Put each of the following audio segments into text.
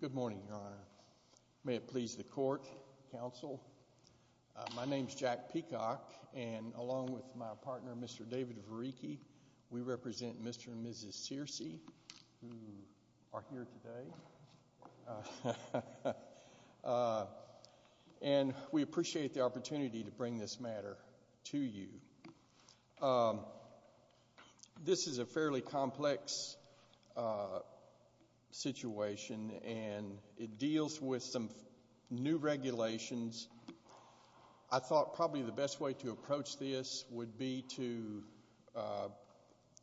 Good morning, Your Honor. May it please the court, counsel. My name is Jack Peacock, and along with my partner, Mr. David Vareekie, we represent Mr. and Mrs. Searcy, who are This is a fairly complex situation, and it deals with some new regulations. I thought probably the best way to approach this would be to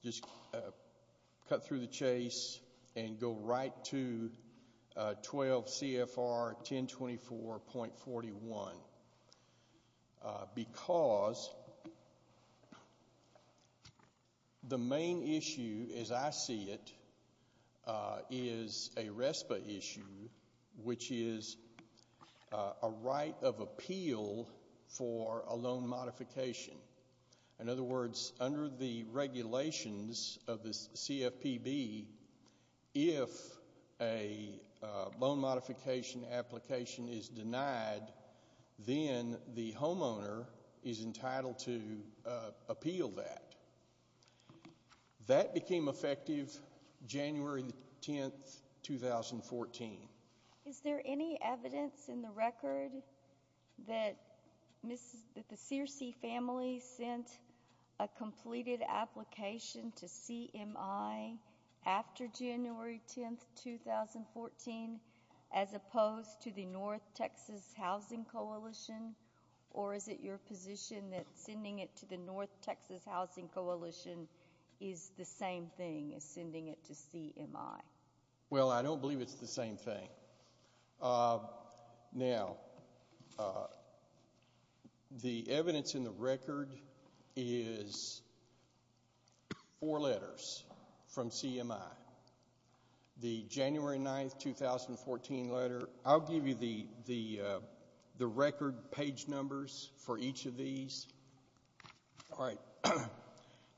just cut through the chase and go right to 12 CFR 1024.41, because the main issue as I see it is a RESPA issue, which is a right of appeal for a loan modification. In other words, under the regulations of the CFPB, if a loan modification application is denied, then the homeowner is entitled to appeal that. That became effective January 10, 2014. Is there any evidence in the record that the Searcy family sent a completed application to CMI after January 10, 2014, as opposed to the North Texas Housing Coalition, or is it your position that sending it to the North Texas Housing Coalition is the same thing as sending it to CMI? Well, I don't believe it's the same thing. Now, the evidence in the record is four letters from CMI. The January 9, 2014 letter, I'll give you the record page numbers for each of these.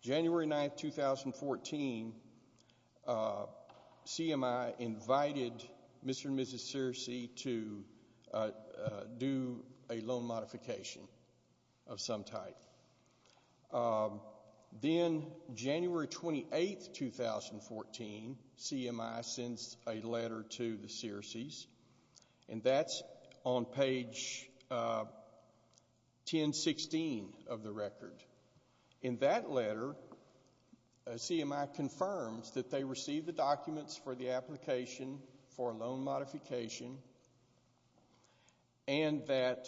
January 9, 2014, CMI invited Mr. and Mrs. Searcy to do a loan modification of some type. Then January 28, 2014, CMI sends a letter to the Searcy family on page 1016 of the record. In that letter, CMI confirms that they received the documents for the application for a loan modification and that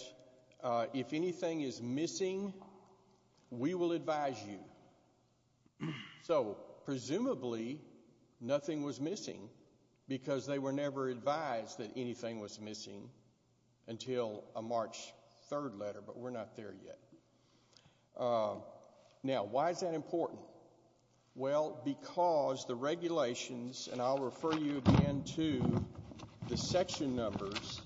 if anything is missing, we will advise you. So, presumably, nothing was missing because they were never advised that anything was missing until a March 3 letter, but we're not there yet. Now, why is that important? Well, because the regulations, and I'll refer you again to the section numbers.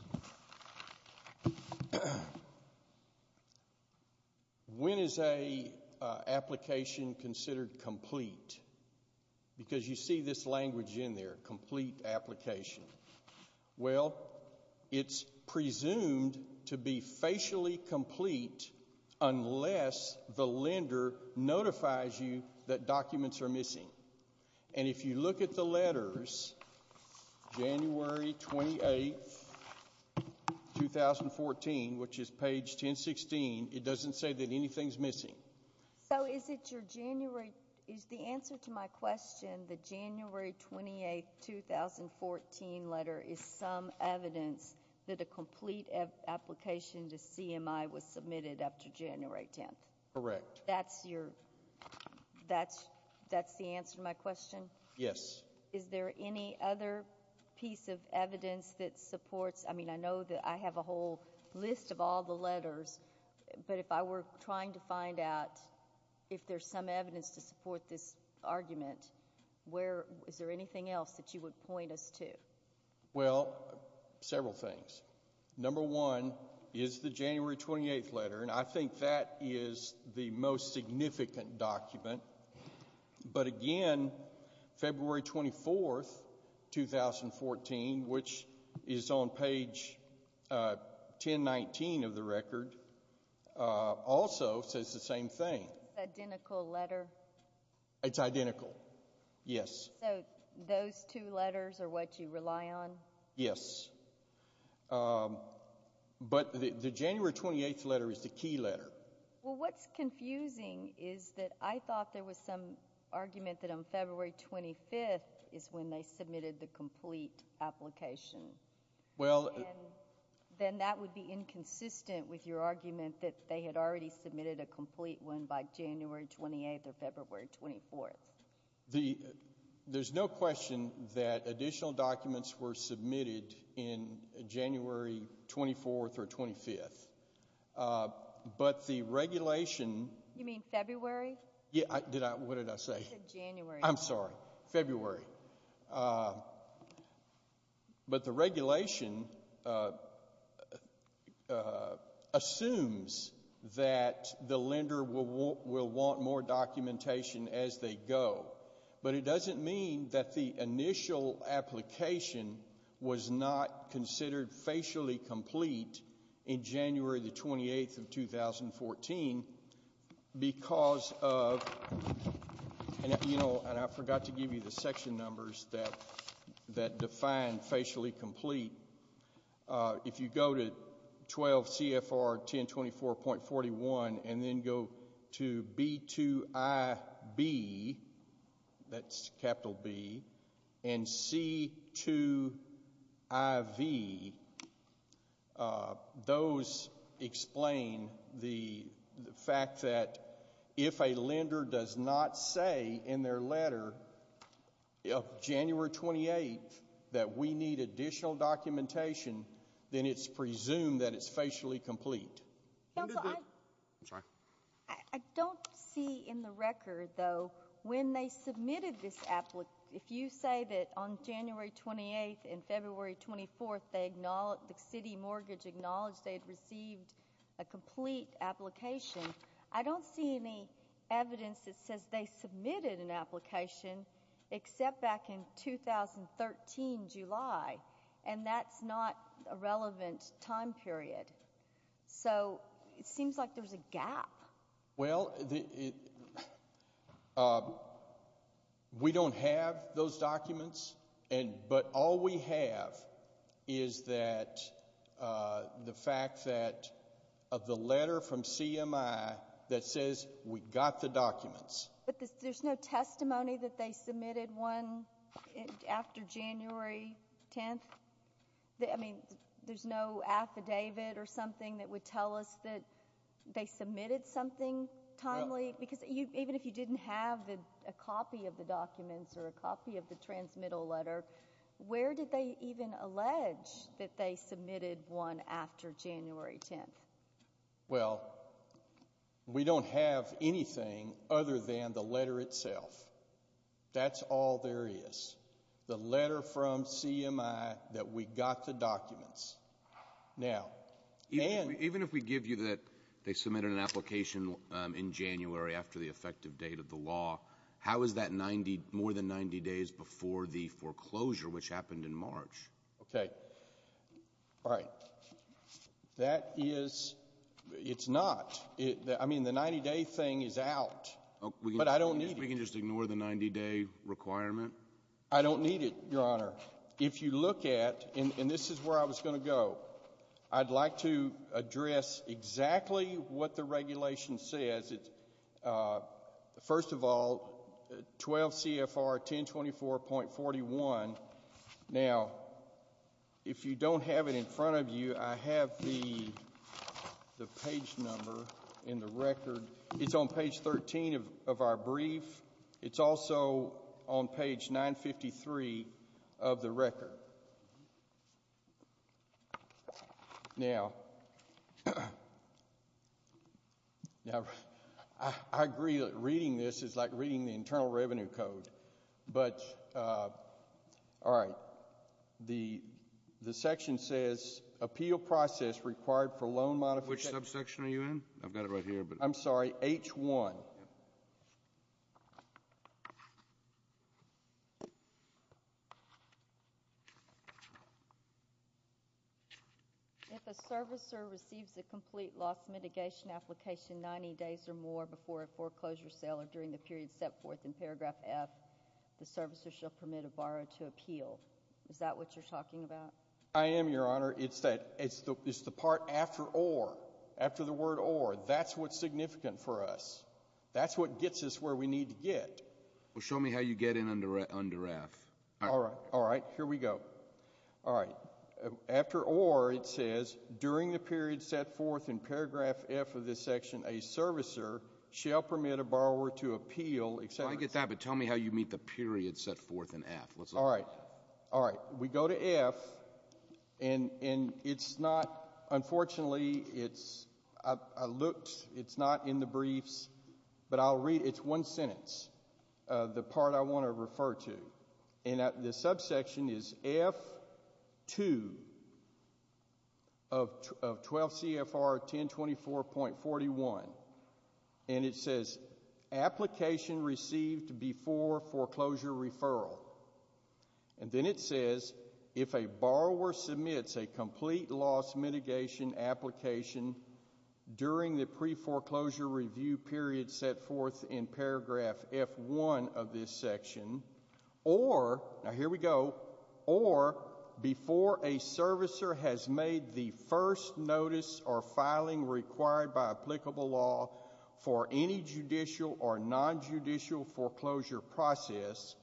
When is an application considered complete? Because you see this language in there, complete application. Well, it's presumed to be facially complete unless the lender notifies you that documents are missing. And if you look at the letters, January 28, 2014, which is page 1016, it doesn't say that anything's missing. So, is it your January, is the answer to my letter is some evidence that a complete application to CMI was submitted after January 10th? Correct. That's your, that's the answer to my question? Yes. Is there any other piece of evidence that supports, I mean, I know that I have a whole list of all the letters, but if I were trying to find out if there's some evidence to support this argument, where, is there anything else that you would point us to? Well, several things. Number one is the January 28th letter, and I think that is the most significant document. But again, February 24th, 2014, which is on page 1019 of the record, also says the same thing. Identical letter? It's identical, yes. So, those two letters are what you rely on? Yes. But the January 28th letter is the key letter. Well, what's confusing is that I thought there was some argument that on February 25th is when they submitted the complete application. Well, then that would be inconsistent with your argument that they had already submitted a document on February 24th. The, there's no question that additional documents were submitted in January 24th or 25th, but the regulation. You mean February? Yeah, I, did I, what did I say? You said January. I'm sorry, February. But the regulation assumes that the lender will want more documentation as they go. But it doesn't mean that the initial application was not considered facially complete in January the 28th of 2014 because of, you know, and I forgot to give you the section numbers that define facially complete. If you go to 12 B2IB, that's capital B, and C2IV, those explain the fact that if a lender does not say in their letter of January 28th that we need additional documentation, then it's presumed that it's facially complete. Counsel, I, I don't see in the record, though, when they submitted this, if you say that on January 28th and February 24th they, the city mortgage acknowledged they had received a complete application, I don't see any evidence that says they submitted an application except back in 2013 July, and that's not a relevant time period. So it seems like there's a gap. Well, the, we don't have those documents, and, but all we have is that the fact that of the letter from CMI that says we got the documents. But there's no testimony that they submitted one after January 10th? I mean, there's no affidavit or something that would tell us that they submitted something timely? Because even if you didn't have a copy of the documents or a copy of the transmittal letter, where did they even allege that they submitted one after January 10th? Well, we don't have anything other than the letter itself. That's all there is. The letter from CMI. Even if we give you that they submitted an application in January after the effective date of the law, how is that more than 90 days before the foreclosure, which happened in March? Okay. Right. That is, it's not. I mean, the 90-day thing is out, but I don't need it. We can just ignore the 90-day requirement? I don't need it, Your Honor. If you look at, and this is where I was going to go, I'd like to address exactly what the regulation says. First of all, 12 CFR 1024.41. Now, if you don't have it in front of you, I have the page number in the record. It's on page 13 of our brief. It's also on page 953 of the record. Now, I agree that reading this is like reading the Internal Revenue Code, but all right. The section says appeal process required for loan modification. Which subsection are you in? I've got it right here. I'm sorry, H1. If a servicer receives a complete loss mitigation application 90 days or more before a foreclosure sale or during the period set forth in paragraph F, the servicer shall permit a borrower to appeal. Is that what you're talking about? I am, Your Honor. It's the part after or, after the word or. That's what's significant for us. That's what gets us where we need to get. Well, show me how you get in under F. All right. All right. Here we go. All right. After or, it says, during the period set forth in paragraph F of this section, a servicer shall permit a borrower to appeal, etc. I get that, but tell me how you meet the period set forth in F. All right. All right. So, F, and it's not, unfortunately, it's, I looked, it's not in the briefs, but I'll read, it's one sentence, the part I want to refer to. And the subsection is F2 of 12 CFR 1024.41. And it says, application received before foreclosure referral. And then it says, if a borrower submits a complete loss mitigation application during the preforeclosure review period set forth in paragraph F1 of this section, or, now here we go, or before a servicer has made the first notice or filing required by applicable law for any judicial or nonjudicial foreclosure process,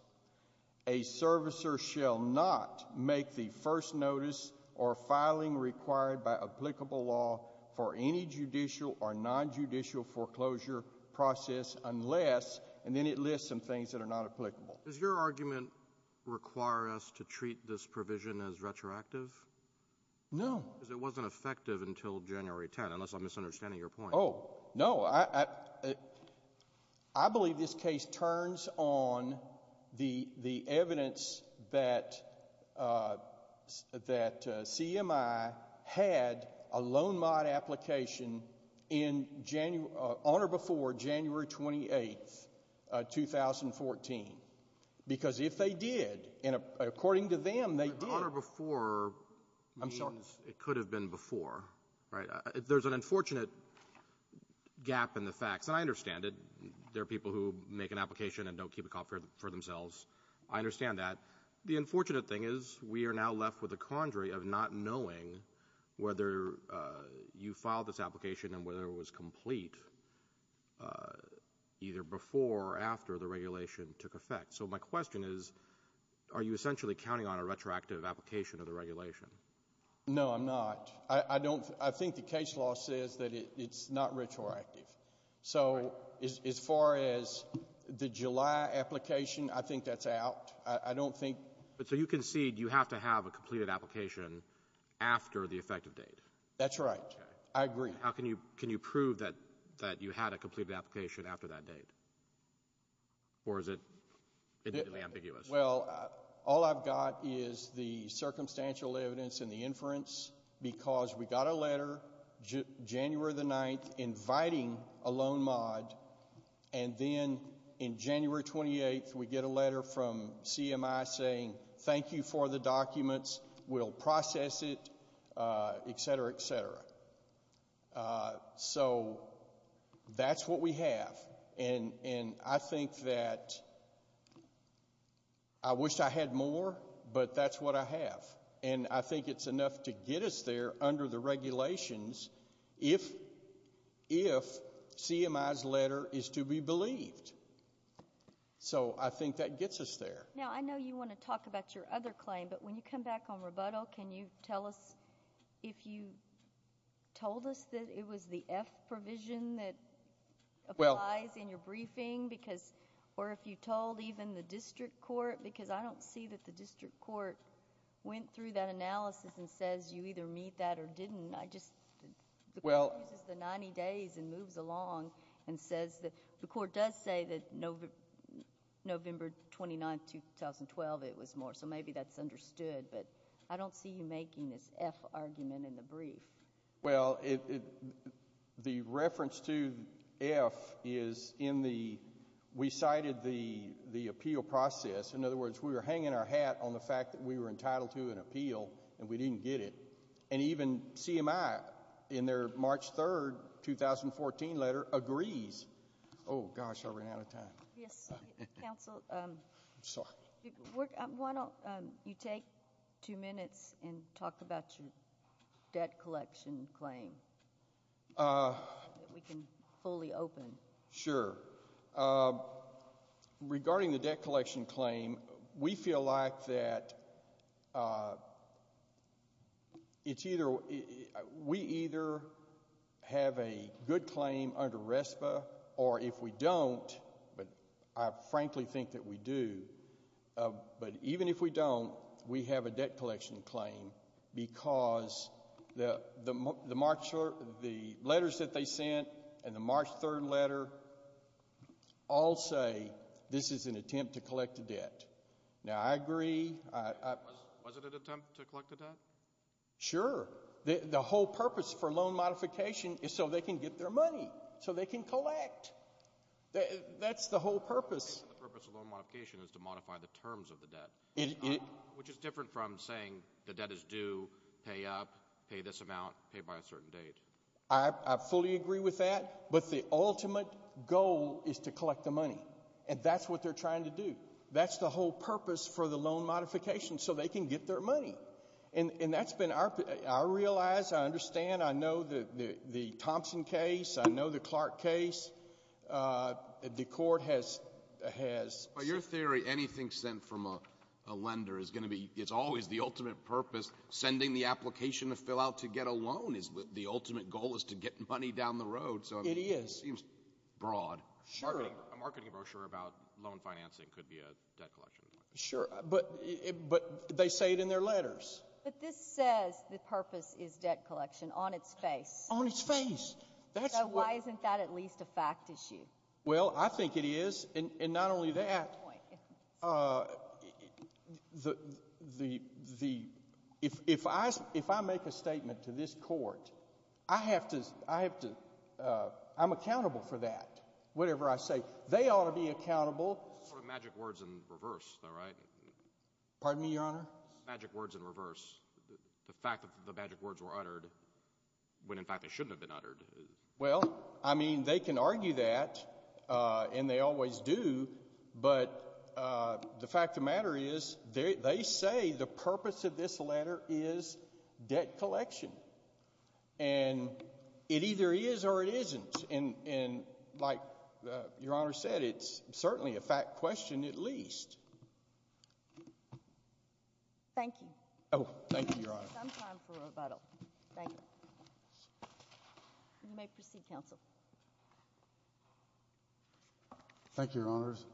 a servicer shall not make the first notice or filing required by applicable law for any judicial or nonjudicial foreclosure process unless, and then it lists some things that are not applicable. Does your argument require us to treat this provision as retroactive? No. Because it wasn't effective until January 10, unless I'm misunderstanding your point. Oh, no. I believe this case turns on the evidence that CMI had a loan mod application on or before January 28, 2014. Because if they did, and according to them, on or before means it could have been before, right? There's an unfortunate gap in the facts. And I understand it. There are people who make an application and don't keep it for themselves. I understand that. The unfortunate thing is we are now left with a quandary of not knowing whether you filed this application and whether it was complete either before or after the regulation took effect. So my question is, are you essentially counting on a retroactive application of the regulation? No, I'm not. I don't. I think the case law says that it's not retroactive. So as far as the July application, I think that's out. I don't think But so you concede you have to have a completed application after the effective date. That's right. I agree. How can you prove that you had a completed application after that date? Or is it ambiguous? Well, all I've got is the circumstantial evidence and the inference because we got a letter January the 9th inviting a loan mod. And then in January 28th, we get a letter from CMI saying thank you for the documents. We'll And I think that I wish I had more, but that's what I have. And I think it's enough to get us there under the regulations if CMI's letter is to be believed. So I think that gets us there. Now, I know you want to talk about your other claim, but when you come back on rebuttal, can you tell us if you told us that it was the F provision that applies in your briefing because or if you told even the district court because I don't see that the district court went through that analysis and says you either meet that or didn't. I just Well, the 90 days and moves along and says that the court does say that November 29th, 2012, it was more. So maybe that's understood, but I don't see you making this F argument in the brief. Well, the reference to F is in the we cited the the appeal process. In other words, we were hanging our hat on the fact that we were entitled to an appeal and we didn't get it and even CMI in their March 3rd, 2014 letter agrees. Oh gosh, I ran out of time. Yes, counsel. I'm sorry. Why don't you take two minutes and talk about your debt collection claim? We can fully open. Sure. Regarding the debt collection claim, we feel like that it's either we either have a good claim under RESPA or if we don't, but I frankly think that we do. But even if we don't, we have a debt collection claim because the the March or the letters that they sent and the March 3rd letter all say this is an attempt to collect a debt. Now, I agree. Was it an attempt to collect the debt? Sure. The whole purpose for loan modification is they can get their money so they can collect. That's the whole purpose. The purpose of loan modification is to modify the terms of the debt, which is different from saying the debt is due, pay up, pay this amount, pay by a certain date. I fully agree with that. But the ultimate goal is to collect the money and that's what they're trying to do. That's the whole purpose for the loan modification so they can get their money. And that's been our I realize I understand. I know that the Thompson case. I know the Clark case. The court has has your theory. Anything sent from a lender is going to be it's always the ultimate purpose. Sending the application to fill out to get a loan is the ultimate goal is to get money down the road. So it is broad. Sure. A marketing brochure about loan financing could be a debt collection. Sure. But but they say it in their letters. But this says the purpose is debt collection on its face on its face. That's why isn't that at least a fact issue? Well, I think it is. And not only that, the the the if if I if I make a statement to this court, I have to I have to I'm accountable for that. Whatever I say, they ought to be accountable. Magic words in reverse. All right. Pardon me, Your Honor. Magic words in reverse. The fact that the magic words were uttered when, in fact, they shouldn't have been uttered. Well, I mean, they can argue that and they always do. But the fact of the matter is, they say the purpose of this letter is debt collection. And it either is or it isn't. And like Your Honor said, it's certainly a fact question, at least. Thank you. Oh, thank you, Your Honor. Thank you. You may proceed, counsel. Thank you, Your Honors.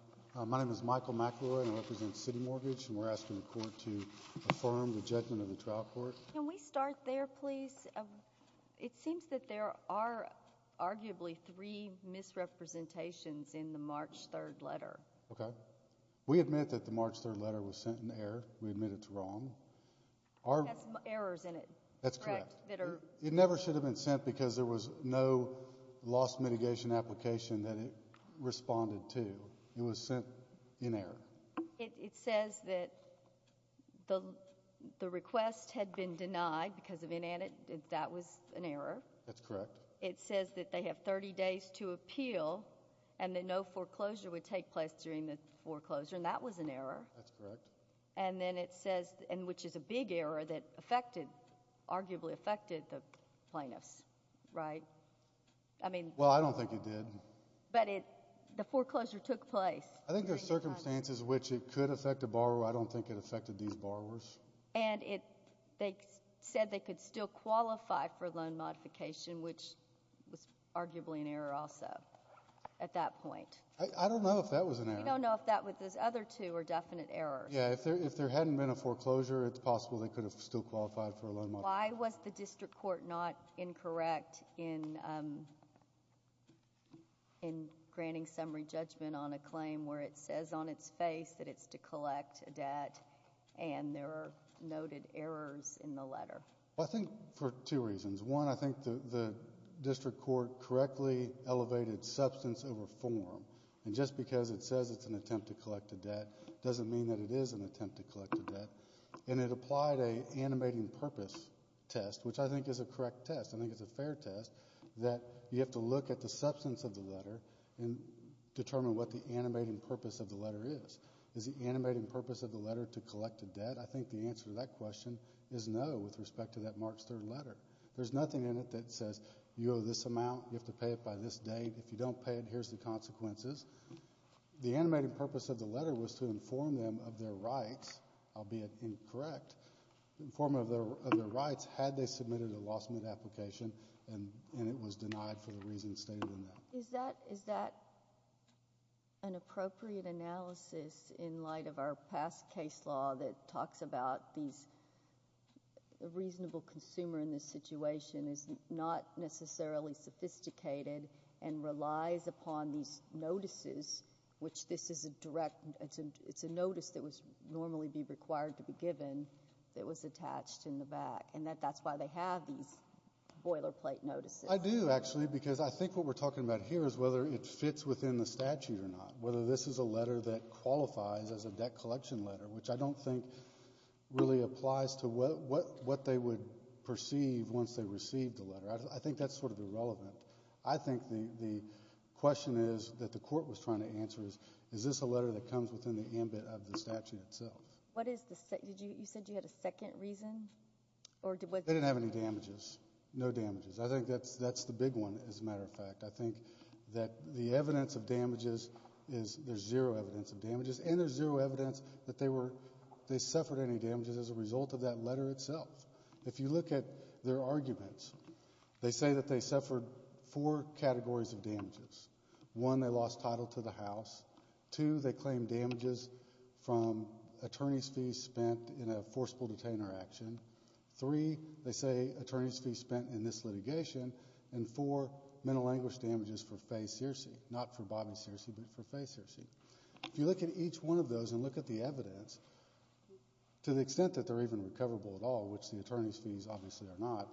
My name is Michael McElroy and I represent City Mortgage. And we're asking the court to affirm the judgment of the trial court. Can we start there, please? It seems that there are arguably three misrepresentations in the March 3rd letter. OK. We admit that the March 3rd letter was sent in error. We admit it's wrong. It has errors in it. That's correct. It never should have been sent because there was no loss mitigation application that it responded to. It was sent in error. It says that the request had been denied because of inan—that was an error. That's correct. It says that they have 30 days to appeal and that no foreclosure would take place during the foreclosure. And that was an error. That's correct. And then it says—and which is a big error that affected, arguably affected, the plaintiffs, right? I mean— Well, I don't think it did. But it—the foreclosure took place. I think there are circumstances in which it could affect a borrower. I don't think it affected these borrowers. And it—they said they could still qualify for loan modification, which was arguably an error also at that point. I don't know if that was an error. We don't know if that—if those other two are definite errors. Yeah, if there hadn't been a foreclosure, it's possible they could have still qualified for a loan modification. Why was the district court not incorrect in granting summary judgment on a claim where it says on its face that it's to collect a debt and there are noted errors in the letter? Well, I think for two reasons. One, I think the district court correctly elevated substance over form. And just because it says it's an attempt to collect a debt doesn't mean that it is an attempt to collect a debt. And it applied an animating purpose test, which I think is a correct test. I think it's a fair test that you have to look at the substance of the letter and determine what the animating purpose of the letter is. Is the animating purpose of the letter to collect a debt? I think the answer to that question is no with respect to that March 3rd letter. There's nothing in it that says you owe this amount, you have to pay it by this date. If you don't pay it, here's the consequences. The animating purpose of the letter was to inform them of their rights. I'll be incorrect, inform them of their rights had they submitted a loss of an application and it was denied for the reasons stated in that. Is that an appropriate analysis in light of our past case law that talks about these reasonable consumer in this situation is not necessarily sophisticated and relies upon these notices, which this is a direct, it's a notice that would normally be required to be given that was attached in the back. And that's why they have these boilerplate notices. I do, actually, because I think what we're talking about here is whether it fits within the statute or not. Whether this is a letter that qualifies as a debt collection letter, which I don't think really applies to what they would perceive once they received the letter. I think that's sort of irrelevant. I think the question is that the court was trying to answer is, is this a letter that comes within the ambit of the statute itself? What is the, you said you had a second reason? They didn't have any damages, no damages. I think that's the big one, as a matter of fact. I think that the evidence of damages is, there's zero evidence of damages. And there's zero evidence that they were, they suffered any damages as a result of that letter itself. If you look at their arguments, they say that they suffered four categories of damages. One, they lost title to the house. Two, they claim damages from attorney's fees spent in a forcible detainer action. Three, they say attorney's fees spent in this litigation. And four, mental anguish damages for Faye Searcy. Not for Bobby Searcy, but for Faye Searcy. If you look at each one of those and look at the evidence, to the extent that they're even recoverable at all, which the attorney's fees obviously are not,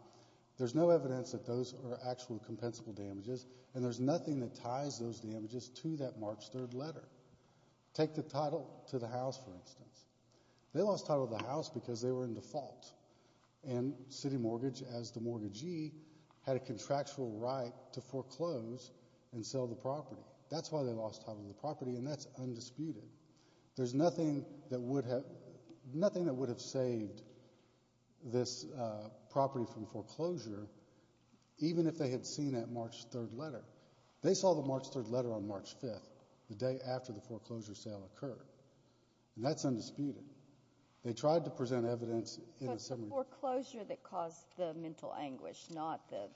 there's no evidence that those are actual compensable damages. And there's nothing that ties those damages to that March 3rd letter. Take the title to the house, for instance. They lost title to the house because they were in default. And City Mortgage, as the mortgagee, had a contractual right to foreclose and sell the property. That's why they lost title to the property, and that's undisputed. There's nothing that would have saved this property from foreclosure, even if they had seen that March 3rd letter. They saw the March 3rd letter on March 5th, the day after the foreclosure sale occurred. And that's undisputed. They tried to present evidence in a summary. But the foreclosure that caused the mental anguish, not the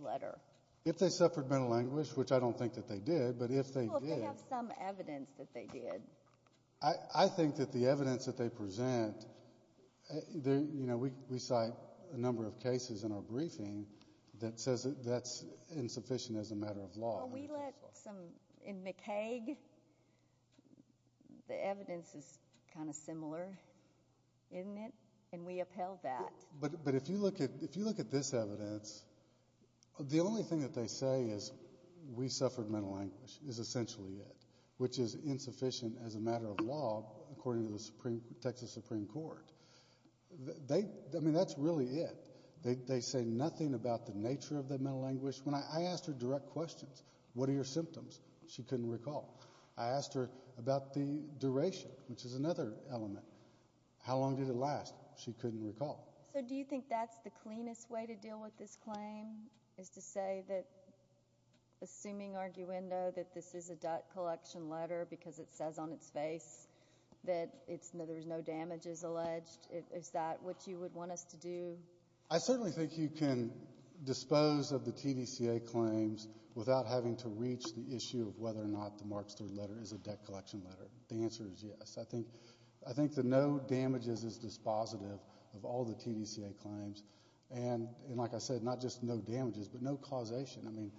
letter. If they suffered mental anguish, which I don't think that they did, but if they did. What is some evidence that they did? I think that the evidence that they present, you know, we cite a number of cases in our briefing that says that's insufficient as a matter of law. Well, we let some, in McCaig, the evidence is kind of similar, isn't it? And we upheld that. But if you look at this evidence, the only thing that they say is we suffered mental anguish is essentially it. Which is insufficient as a matter of law, according to the Texas Supreme Court. I mean, that's really it. They say nothing about the nature of the mental anguish. When I asked her direct questions, what are your symptoms? She couldn't recall. I asked her about the duration, which is another element. How long did it last? She couldn't recall. So, do you think that's the cleanest way to deal with this claim? Is to say that, assuming arguendo, that this is a debt collection letter because it says on its face that there's no damages alleged, is that what you would want us to do? I certainly think you can dispose of the TDCA claims without having to reach the issue of whether or not the Marks III letter is a debt collection letter. The answer is yes. I think the no damages is dispositive of all the TDCA claims. And like I said, not just no damages, but no causation. I mean,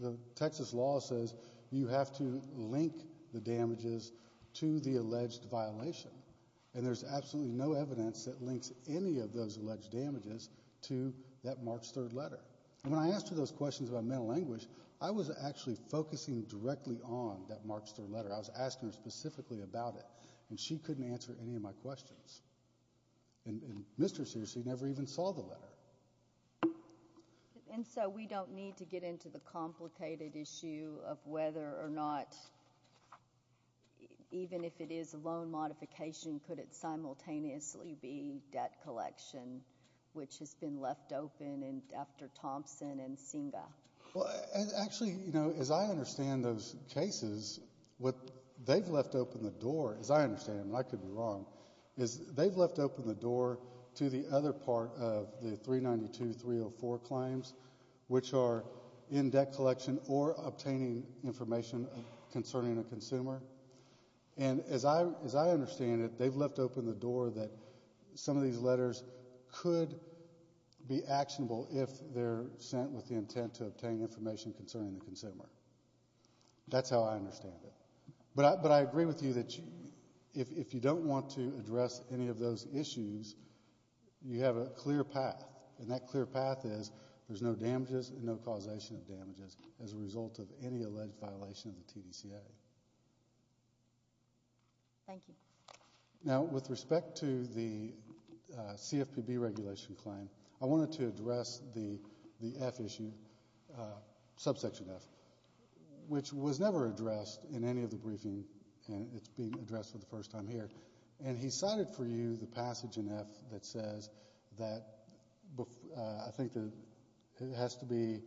the Texas law says you have to link the damages to the alleged violation. And there's absolutely no evidence that links any of those alleged damages to that Marks III letter. And when I asked her those questions about mental anguish, I was actually focusing directly on that Marks III letter. I was asking her specifically about it. And she couldn't answer any of my questions. And Mr. Searcy never even saw the letter. And so, we don't need to get into the complicated issue of whether or not, even if it is a loan modification, could it simultaneously be debt collection, which has been left open after Thompson and Singa? Well, actually, you know, as I understand those cases, what they've left open the door, as I understand, and I could be wrong, is they've left open the door to the other part of the 392-304 claims, which are in debt collection or obtaining information concerning a consumer. And as I understand it, they've left open the door that some of these letters could be actionable if they're sent with the intent to obtain information concerning the consumer. That's how I understand it. But I agree with you that if you don't want to address any of those issues, you have a clear path. And that clear path is there's no damages and no causation of damages as a result of any alleged violation of the TDCA. Thank you. Now, with respect to the CFPB regulation claim, I wanted to address the F issue, subsection F, which was never addressed in any of the briefing. And it's being addressed for the first time here. And he cited for you the passage in F that says that I think it has to be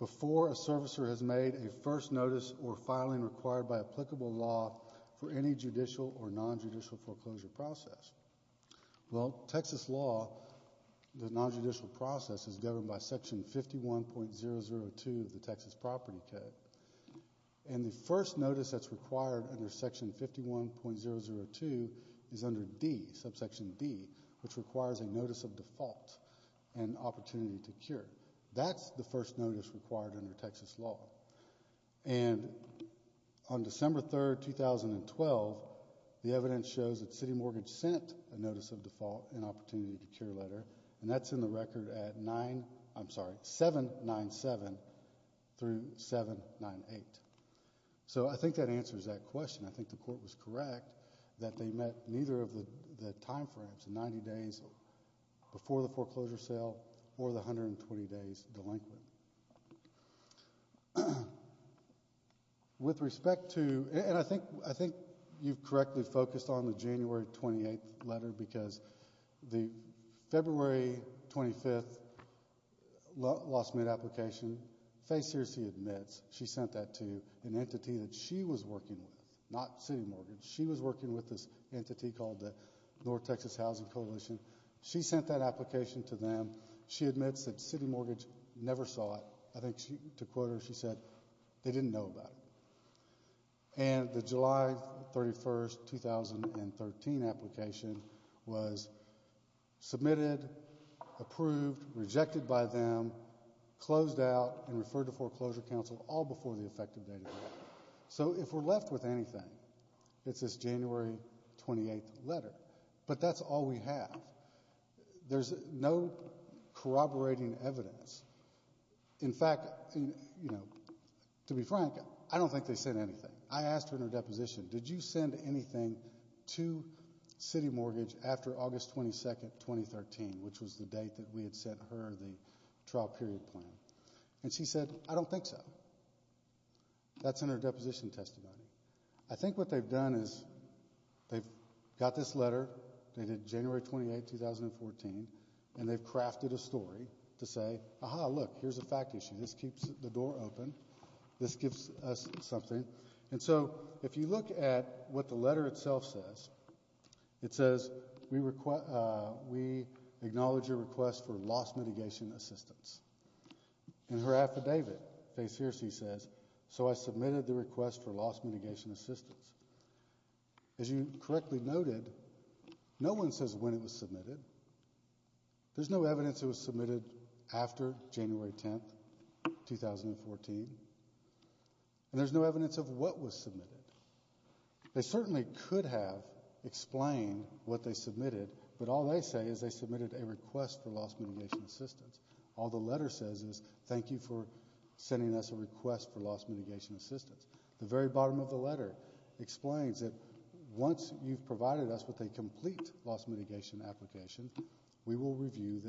before a servicer has made a first notice or filing required by applicable law for any judicial or nonjudicial foreclosure process. Well, Texas law, the nonjudicial process, is governed by section 51.002 of the Texas Property Code. And the first notice that's required under section 51.002 is under D, subsection D, which requires a notice of default and opportunity to cure. That's the first notice required under Texas law. And on December 3, 2012, the evidence shows that City Mortgage sent a notice of default and opportunity to cure letter. And that's in the record at 9, I'm sorry, 797 through 798. So I think that answers that question. I think the court was correct that they met neither of the timeframes, the 90 days before the foreclosure sale or the 120 days delinquent. With respect to, and I think you've correctly focused on the January 28th letter because the February 25th law submit application, Faye Searcy admits she sent that to an entity that she was working with, not City Mortgage. She was working with this entity called the North Texas Housing Coalition. She sent that application to them. She admits that City Mortgage never saw it. I think to quote her, she said, they didn't know about it. And the July 31st, 2013 application was submitted, approved, rejected by them, closed out, and referred to foreclosure counsel all before the effective date. So if we're left with anything, it's this January 28th letter. But that's all we have. There's no corroborating evidence. In fact, to be frank, I don't think they sent anything. I asked her in her deposition, did you send anything to City Mortgage after August 22nd, 2013, which was the date that we had sent her the trial period plan? And she said, I don't think so. That's in her deposition testimony. I think what they've done is they've got this letter dated January 28th, 2014, and they've crafted a story to say, aha, look, here's a fact issue. This keeps the door open. This gives us something. And so if you look at what the letter itself says, it says, we acknowledge your request for loss mitigation assistance. In her affidavit, Fay Searcy says, so I submitted the request for loss mitigation assistance. As you correctly noted, no one says when it was submitted. There's no evidence it was submitted after January 10th, 2014, and there's no evidence of what was submitted. They certainly could have explained what they submitted, but all they say is they submitted a request for loss mitigation assistance. All the letter says is, thank you for sending us a request for loss mitigation assistance. The very bottom of the letter explains that once you've provided us with a complete loss mitigation application, we will review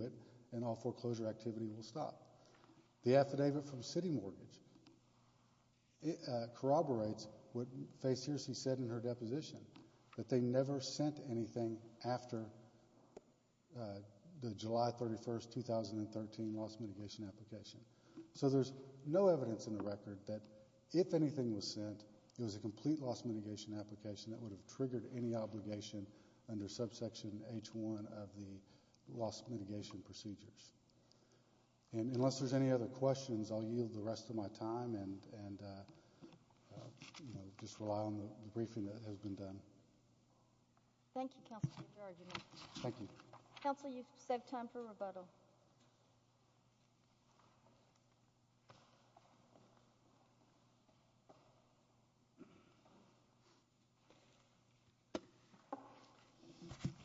it and all foreclosure activity will stop. The affidavit from City Mortgage corroborates what Fay Searcy said in her deposition, that they never sent anything after the July 31st, 2013 loss mitigation application. So there's no evidence in the record that if anything was sent, it was a complete loss mitigation application that would have triggered any obligation under subsection H1 of the loss mitigation procedures. And unless there's any other questions, I'll yield the rest of my time and just rely on the briefing that has been done. Thank you, Counselor, for your argument. Thank you. Counsel, you've saved time for rebuttal.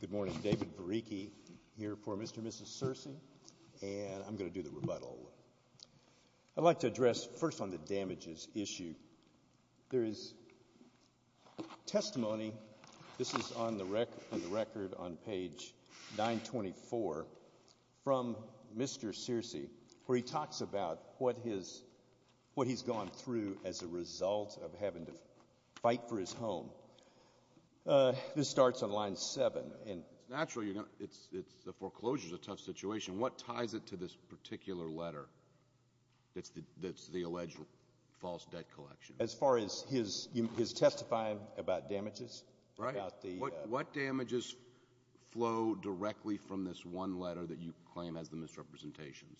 Good morning, David Vericki here for Mr. and Mrs. Searcy, and I'm going to do the rebuttal. I'd like to address first on the damages issue. There is testimony, this is on the record on page 924, from Mr. Searcy, where he talks about what he's gone through as a result of having to fight for his home. This starts on line 7. Naturally, the foreclosure is a tough situation. What ties it to this particular letter that's the alleged false debt collection? As far as his testifying about damages? Right. What damages flow directly from this one letter that you claim has the misrepresentations?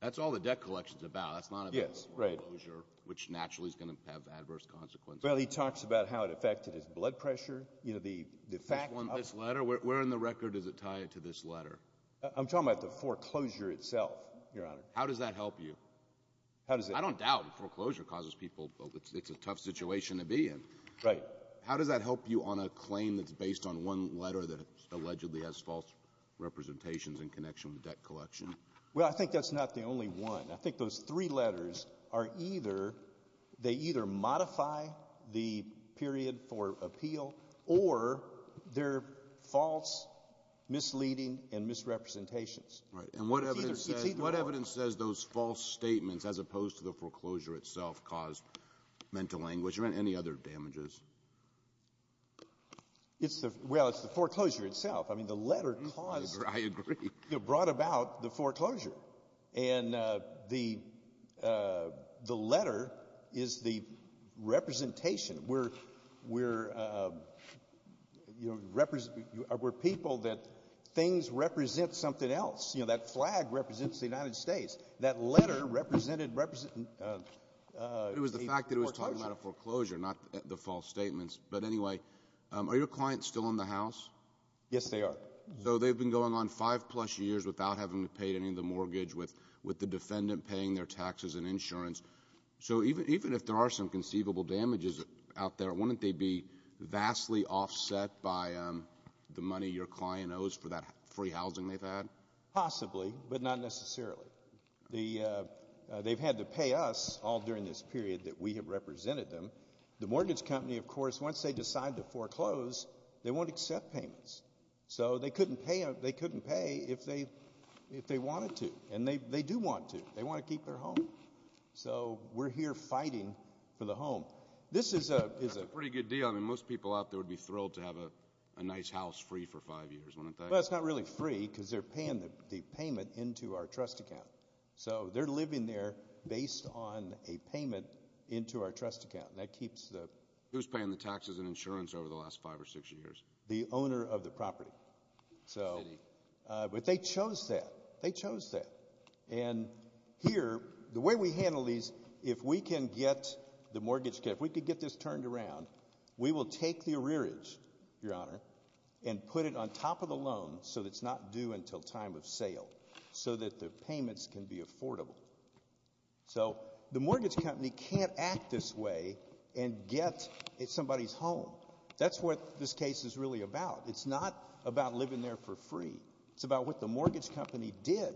That's all the debt collection is about. That's not about the foreclosure, which naturally is going to have adverse consequences. Well, he talks about how it affected his blood pressure. This letter? Where in the record does it tie it to this letter? I'm talking about the foreclosure itself, Your Honor. How does that help you? I don't doubt foreclosure causes people, but it's a tough situation to be in. Right. How does that help you on a claim that's based on one letter that allegedly has false representations in connection with debt collection? Well, I think that's not the only one. I think those three letters are either they either modify the period for appeal or they're false, misleading, and misrepresentations. Right. And what evidence says those false statements, as opposed to the foreclosure itself, caused mental anguish or any other damages? Well, it's the foreclosure itself. I mean, the letter brought about the foreclosure. And the letter is the representation. We're people that things represent something else. You know, that flag represents the United States. That letter represented a foreclosure. It was the fact that it was talking about a foreclosure, not the false statements. But anyway, are your clients still in the House? Yes, they are. So they've been going on five-plus years without having to pay any of the mortgage, with the defendant paying their taxes and insurance. So even if there are some conceivable damages out there, wouldn't they be vastly offset by the money your client owes for that free housing they've had? Possibly, but not necessarily. They've had to pay us all during this period that we have represented them. The mortgage company, of course, once they decide to foreclose, they won't accept payments. So they couldn't pay if they wanted to. And they do want to. They want to keep their home. So we're here fighting for the home. That's a pretty good deal. I mean, most people out there would be thrilled to have a nice house free for five years, wouldn't they? Well, it's not really free because they're paying the payment into our trust account. So they're living there based on a payment into our trust account, and that keeps the – Who's paying the taxes and insurance over the last five or six years? The owner of the property. But they chose that. They chose that. And here, the way we handle these, if we can get the mortgage – if we could get this turned around, we will take the arrearage, Your Honor, and put it on top of the loan so it's not due until time of sale so that the payments can be affordable. So the mortgage company can't act this way and get somebody's home. That's what this case is really about. It's not about living there for free. It's about what the mortgage company did.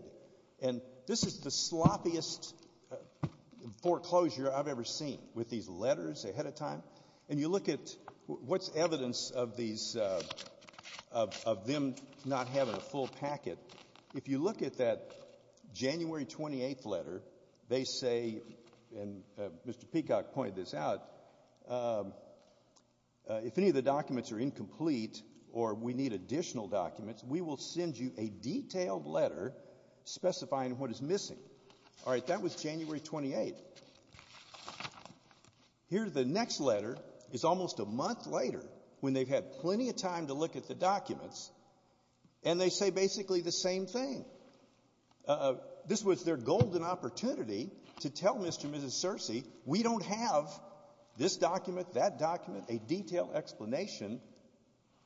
And this is the sloppiest foreclosure I've ever seen with these letters ahead of time. And you look at what's evidence of these – of them not having a full packet. If you look at that January 28th letter, they say – and Mr. Peacock pointed this out – if any of the documents are incomplete or we need additional documents, we will send you a detailed letter specifying what is missing. All right, that was January 28th. Here, the next letter is almost a month later when they've had plenty of time to look at the documents, and they say basically the same thing. This was their golden opportunity to tell Mr. and Mrs. Searcy, we don't have this document, that document, a detailed explanation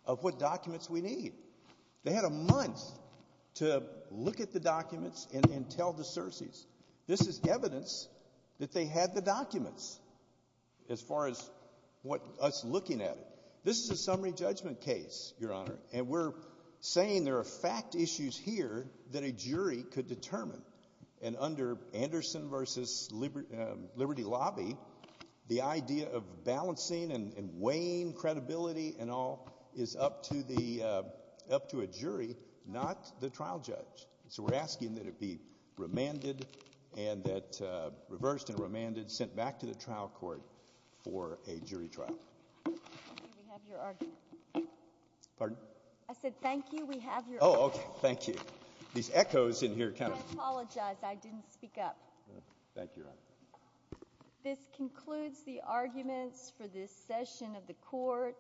of what documents we need. They had a month to look at the documents and tell the Searcy's. This is evidence that they had the documents as far as us looking at it. This is a summary judgment case, Your Honor, and we're saying there are fact issues here that a jury could determine. And under Anderson v. Liberty Lobby, the idea of balancing and weighing credibility and all is up to a jury, not the trial judge. So we're asking that it be remanded and that – reversed and remanded, sent back to the trial court for a jury trial. Thank you, we have your argument. Pardon? I said thank you, we have your argument. Oh, okay, thank you. These echoes in here kind of – I apologize, I didn't speak up. Thank you, Your Honor. This concludes the arguments for this session of the court.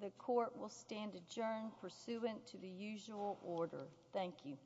The court will stand adjourned pursuant to the usual order. Thank you.